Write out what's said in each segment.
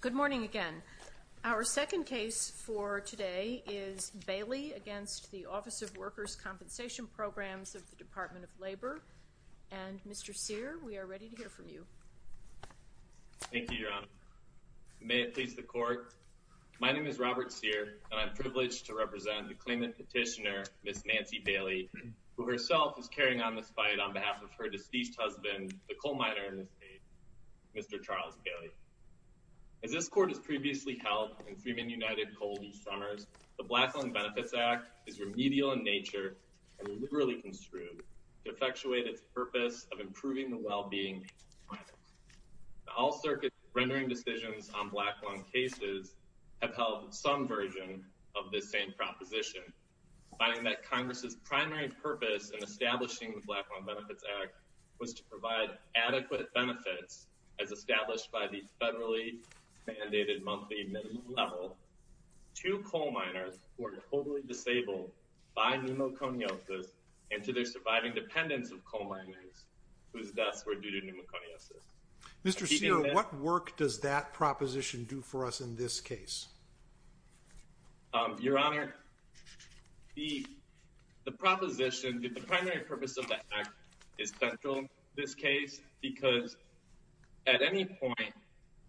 Good morning again. Our second case for today is Bailey against the Office of Workers' Compensation Programs of the Department of Labor. And Mr. Cyr, we are ready to hear from you. Thank you, Your Honor. May it please the court, my name is Robert Cyr, and I'm privileged to represent the claimant petitioner, Ms. Nancy Bailey, who herself is carrying on this fight on behalf of her deceased husband, the coal miner in this case, Mr. Charles Bailey. As this court has previously held in Freeman United Coal these summers, the Black Lung Benefits Act is remedial in nature and liberally construed to effectuate its purpose of improving the well-being of miners. All circuits rendering decisions on black lung cases have held some version of this same proposition, finding that Congress's primary purpose in establishing the Black Lung Benefits Act was to provide adequate benefits as established by the federally mandated monthly minimum level to coal miners who are totally disabled by pneumoconiosis and to their surviving dependents of coal miners whose deaths were due to pneumoconiosis. Mr. Cyr, what work does that proposition do for us in this case? Your Honor, the proposition, the primary purpose of the act is central in this case because at any point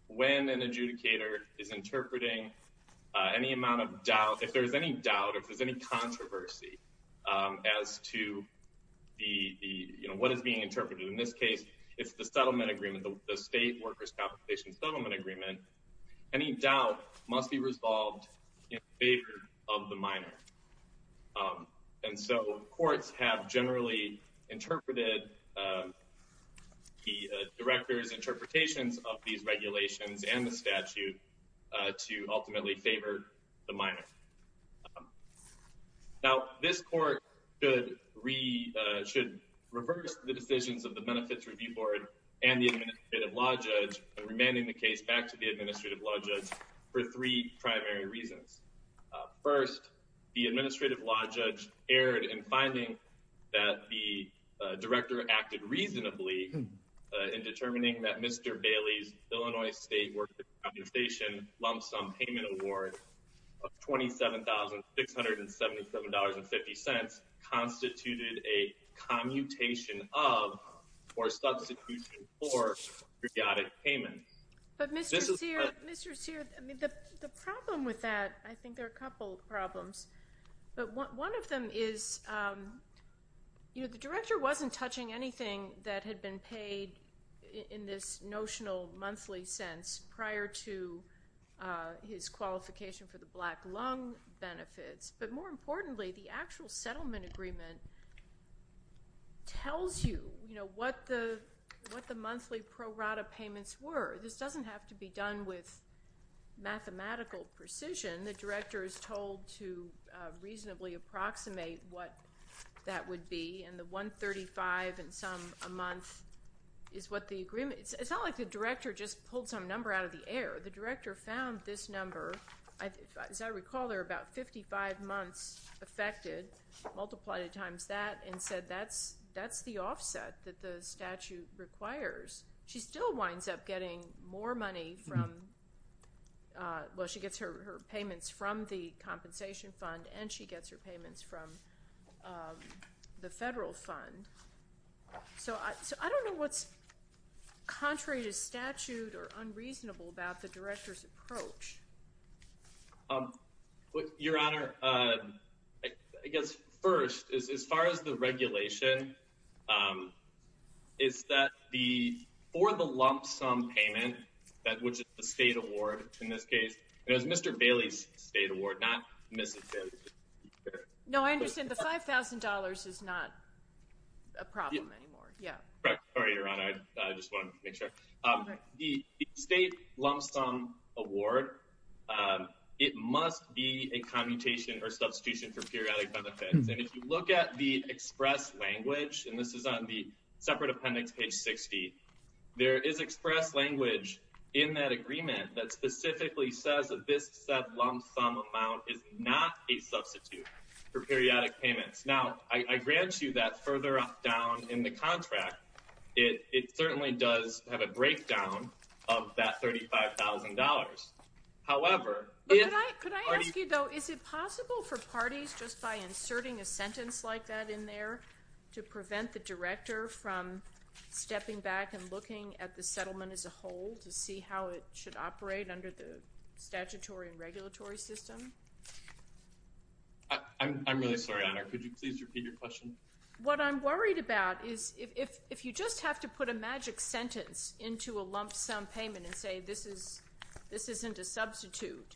when an adjudicator is interpreting any amount of doubt, if there's any doubt, if there's any controversy as to what is being interpreted, in this case, it's the settlement agreement, the State Workers' Compensation Settlement Agreement, any doubt must be resolved in favor of the miner. And so courts have generally interpreted the director's interpretations of these regulations and the statute to ultimately favor the miner. Now, this court should reverse the decisions of the Benefits Review Board and the Administrative Law Judge in remanding the case back to the Administrative Law Judge for three primary reasons. First, the Administrative Law Judge erred in finding that the director acted reasonably in determining that Mr. Bailey's Illinois State Workers' Compensation lump sum payment award of $27,677.50 constituted a commutation of, or substitution for, periodic payment. But Mr. Sear, Mr. Sear, I mean, the problem with that, I think there are a couple of problems, but one of them is, you know, the director wasn't touching anything that had been paid in this notional monthly sense prior to his qualification for the black lung benefits, but more importantly, the actual settlement agreement tells you, you know, what the monthly pro rata payments were. This doesn't have to be done with mathematical precision. The director is told to reasonably approximate what that would be, and the 135 and some a month is what the agreement, it's not like the director just pulled some number out of the air. The director found this number, as I recall, there are about 55 months affected, multiplied it times that, and said that's the offset that the statute requires. She still winds up getting more money from, well, she gets her payments from the compensation fund, and she gets her payments from the federal fund. So I don't know what's contrary to statute or unreasonable about the director's approach. Your Honor, I guess first, as far as the regulation, is that for the lump sum payment, which is the state award in this case, it was Mr. Bailey's state award, not Mrs. Bailey's. No, I understand the $5,000 is not a problem anymore, yeah. Correct, sorry, Your Honor, I just wanted to make sure. The state lump sum award, it must be a commutation or substitution for periodic benefits, and if you look at the express language, and this is on the separate appendix, page 60, there is express language in that agreement that specifically says that this said lump sum amount is not a substitute for periodic payments. Now, I grant you that further down in the contract, it certainly does have a breakdown of that $35,000. However, if- Could I ask you, though, is it possible for parties just by inserting a sentence like that in there to prevent the director from stepping back and looking at the settlement as a whole to see how it should operate under the statutory and regulatory system? I'm really sorry, Your Honor. Could you please repeat your question? What I'm worried about is if you just have to put a magic sentence into a lump sum payment and say this isn't a substitute,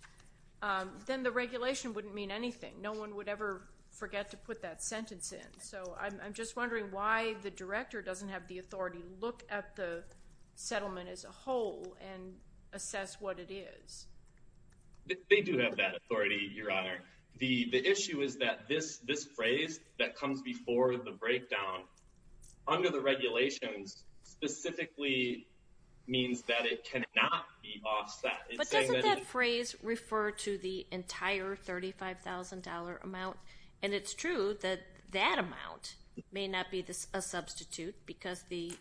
then the regulation wouldn't mean anything. No one would ever forget to put that sentence in. So I'm just wondering why the director doesn't have the authority to look at the settlement as a whole and assess what it is. They do have that authority, Your Honor. The issue is that this phrase that comes before the breakdown under the regulations specifically means that it cannot be offset. It's saying that- And it's true that that amount may not be a substitute because the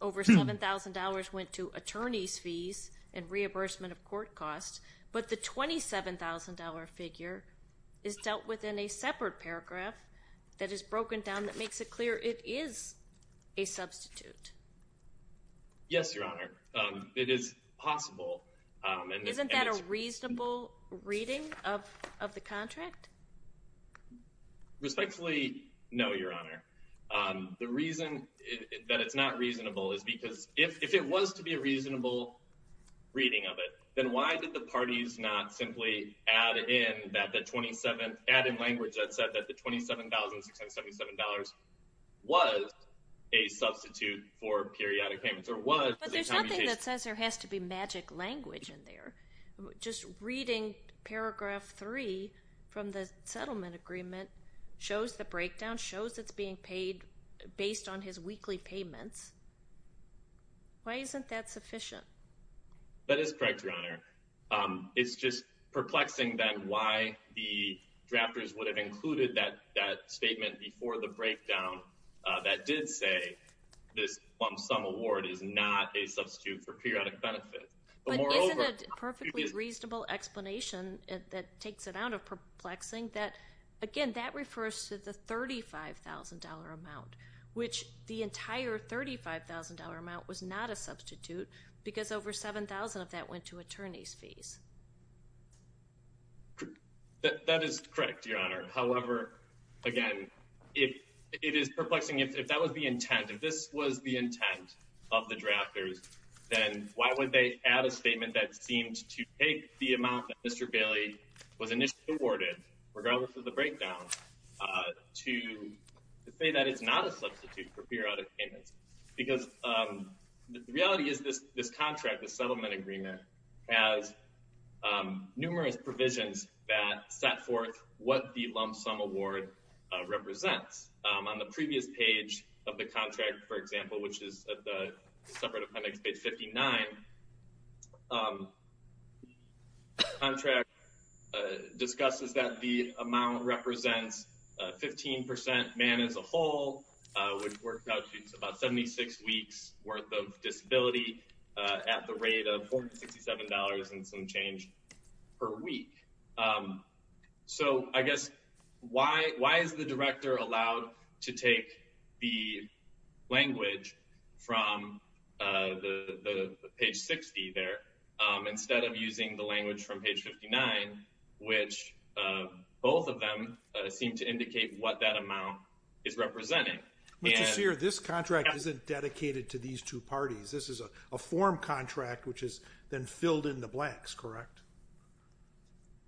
over $7,000 went to attorney's fees and reimbursement of court costs, but the $27,000 figure is dealt with in a separate paragraph that is broken down that makes it clear it is a substitute. Yes, Your Honor. It is possible. Isn't that a reasonable reading of the contract? Respectfully, no, Your Honor. The reason that it's not reasonable is because if it was to be a reasonable reading of it, then why did the parties not simply add in that the 27, add in language that said that the $27,677 was a substitute for periodic payments or was a commutation? The reason that says there has to be magic language in there, just reading paragraph three from the settlement agreement shows the breakdown, shows it's being paid based on his weekly payments. Why isn't that sufficient? That is correct, Your Honor. It's just perplexing then why the drafters would have included that statement before the breakdown that did say this lump sum award is not a substitute for periodic benefits. But moreover- But isn't it a perfectly reasonable explanation that takes it out of perplexing that, again, that refers to the $35,000 amount, which the entire $35,000 amount was not a substitute because over 7,000 of that went to attorney's fees. That is correct, Your Honor. However, again, it is perplexing. If that was the intent, if this was the intent of the drafters, then why would they add a statement that seemed to take the amount that Mr. Bailey was initially awarded, regardless of the breakdown, to say that it's not a substitute for periodic payments? Because the reality is this contract, this settlement agreement, has numerous provisions that set forth what the lump sum award represents. On the previous page of the contract, for example, which is at the separate appendix, page 59, contract discusses that the amount represents 15% man as a whole, which works out to about 76 weeks worth of disability at the rate of $467 and some change per week. So I guess, why is the director allowed to take the language from the page 60 there instead of using the language from page 59, which both of them seem to indicate what that amount is representing? Mr. Sear, this contract isn't dedicated to these two parties. This is a form contract, which is then filled in the blanks, correct?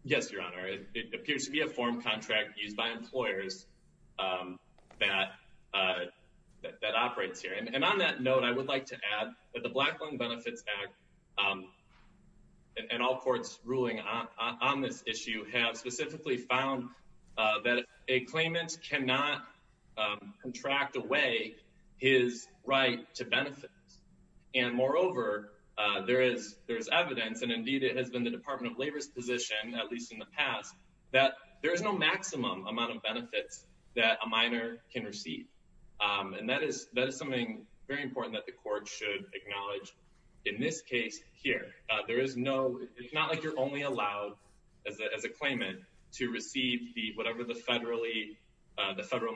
Yes, Your Honor, it appears to be a form contract used by employers that operates here. And on that note, I would like to add that the Black Lung Benefits Act and all courts ruling on this issue have specifically found that a claimant cannot contract away his right to benefit. And moreover, there is evidence, and indeed it has been the Department of Labor's position at least in the past, that there is no maximum amount of benefits that a minor can receive. And that is something very important that the court should acknowledge in this case here. There is no, it's not like you're only allowed as a claimant to receive the, whatever the federal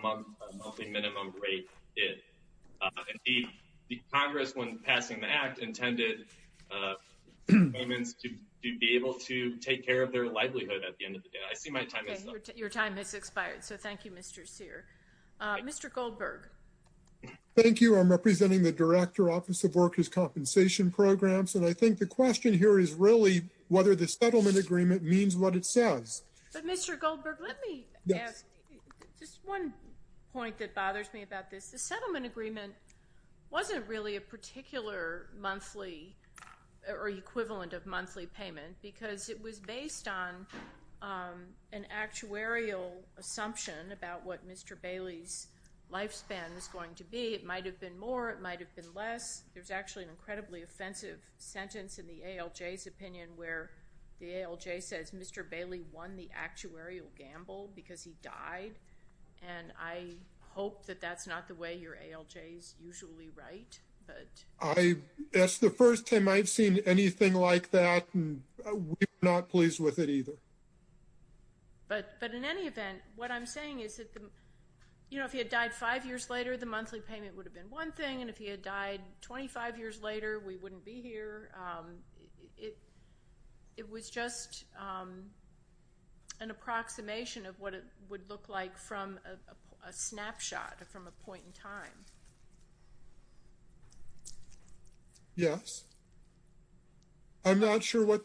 monthly minimum rate is. Indeed, the Congress, when passing the act, intended claimants to be able to take care of their livelihood at the end of the day. I see my time is up. Okay, your time has expired. So thank you, Mr. Sear. Mr. Goldberg. Thank you, I'm representing the Director, Office of Workers' Compensation Programs. And I think the question here is really whether the settlement agreement means what it says. But Mr. Goldberg, let me ask just one point that bothers me about this. The settlement agreement wasn't really a particular monthly, or equivalent of monthly payment, because it was based on an actuarial assumption about what Mr. Bailey's lifespan was going to be. It might have been more, it might have been less. There's actually an incredibly offensive sentence in the ALJ's opinion where the ALJ says Mr. Bailey won the actuarial gamble because he died. And I hope that that's not the way your ALJ's usually write. I, that's the first time I've seen anything like that, and we're not pleased with it either. But in any event, what I'm saying is that, you know, if he had died five years later, the monthly payment would have been one thing. And if he had died 25 years later, we wouldn't be here. It was just an approximation of what it would look like from a snapshot, from a point in time. Yes? I'm not sure what-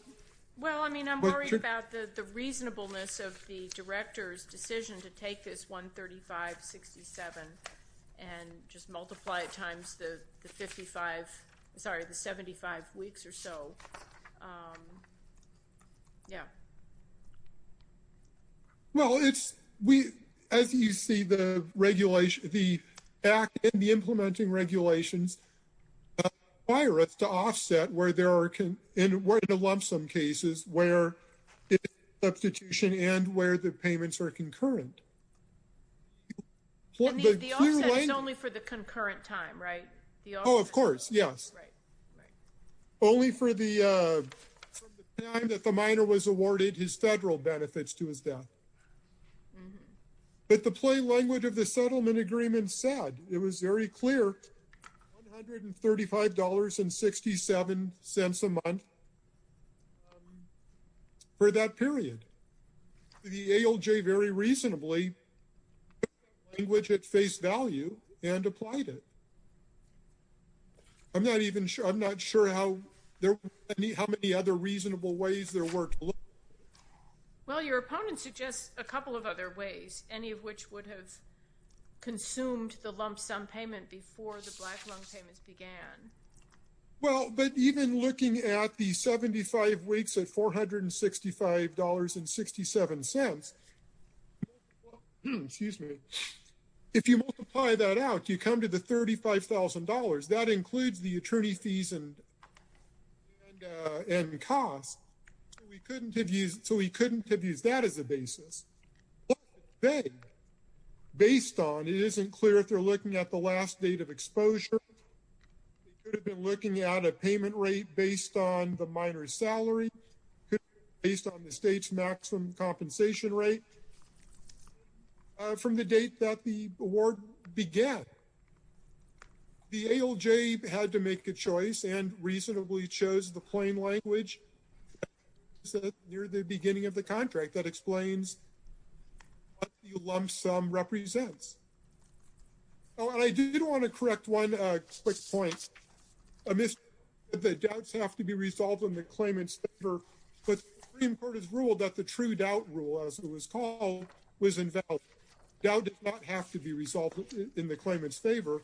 Well, I mean, I'm worried about the reasonableness of the director's decision to take this 135-67 and just multiply it times the 55, sorry, the 75 weeks or so. Yeah. Well, it's, we, as you see the regulation, the act and the implementing regulations, fire us to offset where there are, and we're in a lump sum cases where it's substitution and where the payments are concurrent. The offset is only for the concurrent time, right? Oh, of course, yes. Right, right. Only for the time that the minor was awarded his federal benefits to his death. Mm-hmm. But the plain language of the settlement agreement said, it was very clear, $135.67 a month for that period. The ALJ very reasonably language at face value and applied it. I'm not even sure. I'm not sure how many other reasonable ways there were to look at it. Well, your opponent suggests a couple of other ways, any of which would have consumed the lump sum payment before the black lung payments began. Well, but even looking at the 75 weeks at $465.67, excuse me, if you multiply that out, you come to the $35,000. That includes the attorney fees and costs. We couldn't have used, so we couldn't have used that as a basis. Based on, it isn't clear if they're looking at the last date of exposure, they could have been looking at a payment rate based on the minor's salary, based on the state's maximum compensation rate from the date that the award began. The ALJ had to make a choice and reasonably chose the plain language near the beginning of the contract that explains what the lump sum represents. Oh, and I do want to correct one quick point. I missed the doubts have to be resolved in the claimant's favor, but the Supreme Court has ruled that the true doubt rule as it was called was invalid. Doubt does not have to be resolved in the claimant's favor.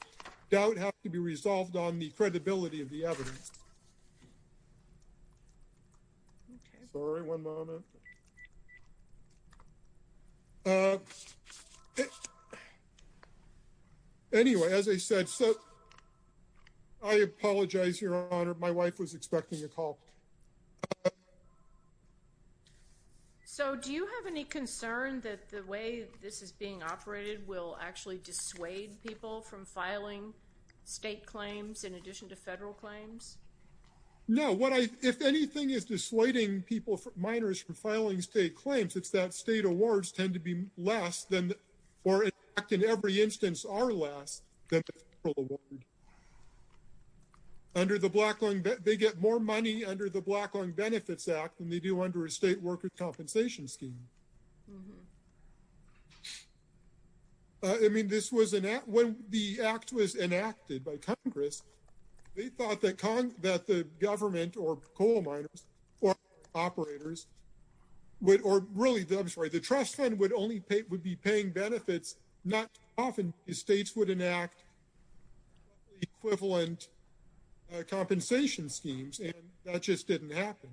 Doubt has to be resolved on the credibility of the evidence. Sorry, one moment. Anyway, as I said, so I apologize, Your Honor, my wife was expecting a call. So do you have any concern that the way this is being operated will actually dissuade people from filing state claims in addition to federal claims? No, if anything is dissuading people, minors from filing state claims, it's that state awards tend to be less than, or in fact in every instance are less than the federal award. Under the Blacklung, they get more money under the Blacklung Benefits Act than they do under a state worker compensation scheme. Mm-hmm. I mean, this was, when the act was enacted by Congress, they thought that the government or coal miners or operators would, or really, I'm sorry, the trust fund would only pay, would be paying benefits. Not often, the states would enact equivalent compensation schemes, and that just didn't happen.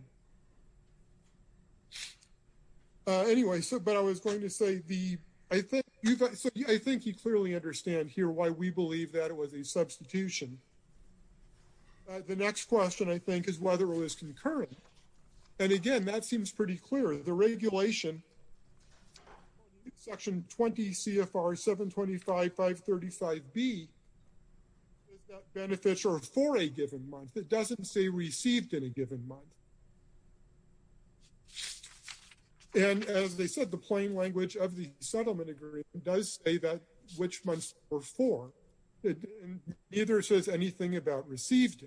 Anyway, so, but I was going to say the, I think you've, so I think you clearly understand here why we believe that it was a substitution. The next question, I think, is whether it was concurrent. And again, that seems pretty clear. The regulation, section 20 CFR 725, 535B, is that benefits are for a given month. It doesn't say received in a given month. And as they said, the plain language of the settlement agreement does say that, which months were for. Neither says anything about received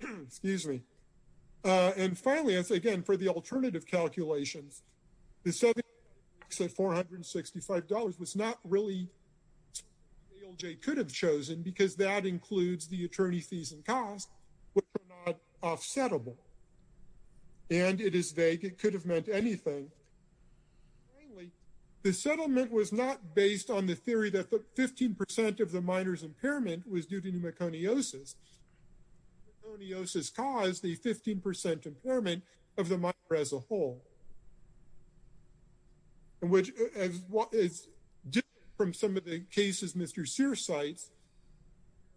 in. Excuse me. And finally, I say again, for the alternative calculations, the $7,465 was not really, ALJ could have chosen because that includes the attorney fees and costs, which are not offsettable, and it is vague. It could have meant anything. Finally, the settlement was not based on the theory that the 15% of the minor's impairment was due to pneumoconiosis. Pneumoconiosis caused the 15% impairment of the minor as a whole. And which is different from some of the cases Mr. Sear cites,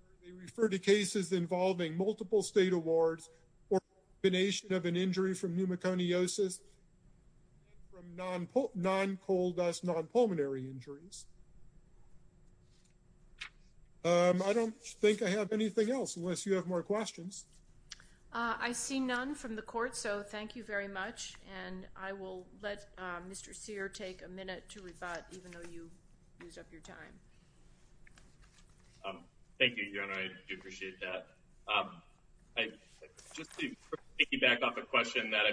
where they refer to cases involving multiple state awards or combination of an injury from pneumoconiosis from non-coal dust, non-pulmonary injuries. I don't think I have anything else unless you have more questions. I see none from the court, so thank you very much. And I will let Mr. Sear take a minute to rebut even though you used up your time. Thank you, Your Honor, I do appreciate that. Just to piggyback off a question that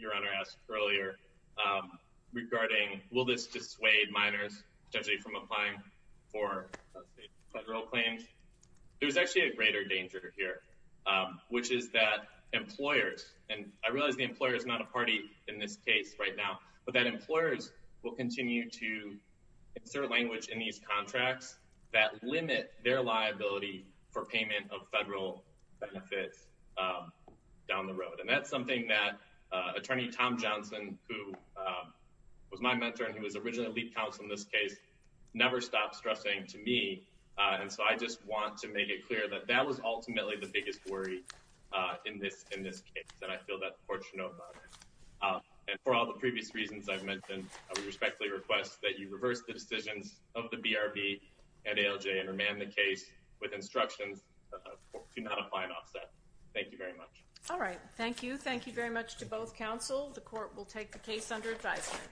Your Honor asked earlier regarding, will this dissuade minors, potentially from applying for federal claims? There's actually a greater danger here, which is that employers, and I realize the employer is not a party in this case right now, but that employers will continue to insert language in these contracts that limit their liability for payment of federal benefits down the road. And that's something that Attorney Tom Johnson, who was my mentor and he was originally lead counsel in this case, never stopped stressing to me. And so I just want to make it clear that that was ultimately the biggest worry in this case. And I feel that fortunate about it. And for all the previous reasons I've mentioned, I would respectfully request that you reverse the decisions of the BRB and ALJ and remand the case with instructions to not apply an offset. Thank you very much. All right, thank you. Thank you very much to both counsel. The court will take the case under advisement.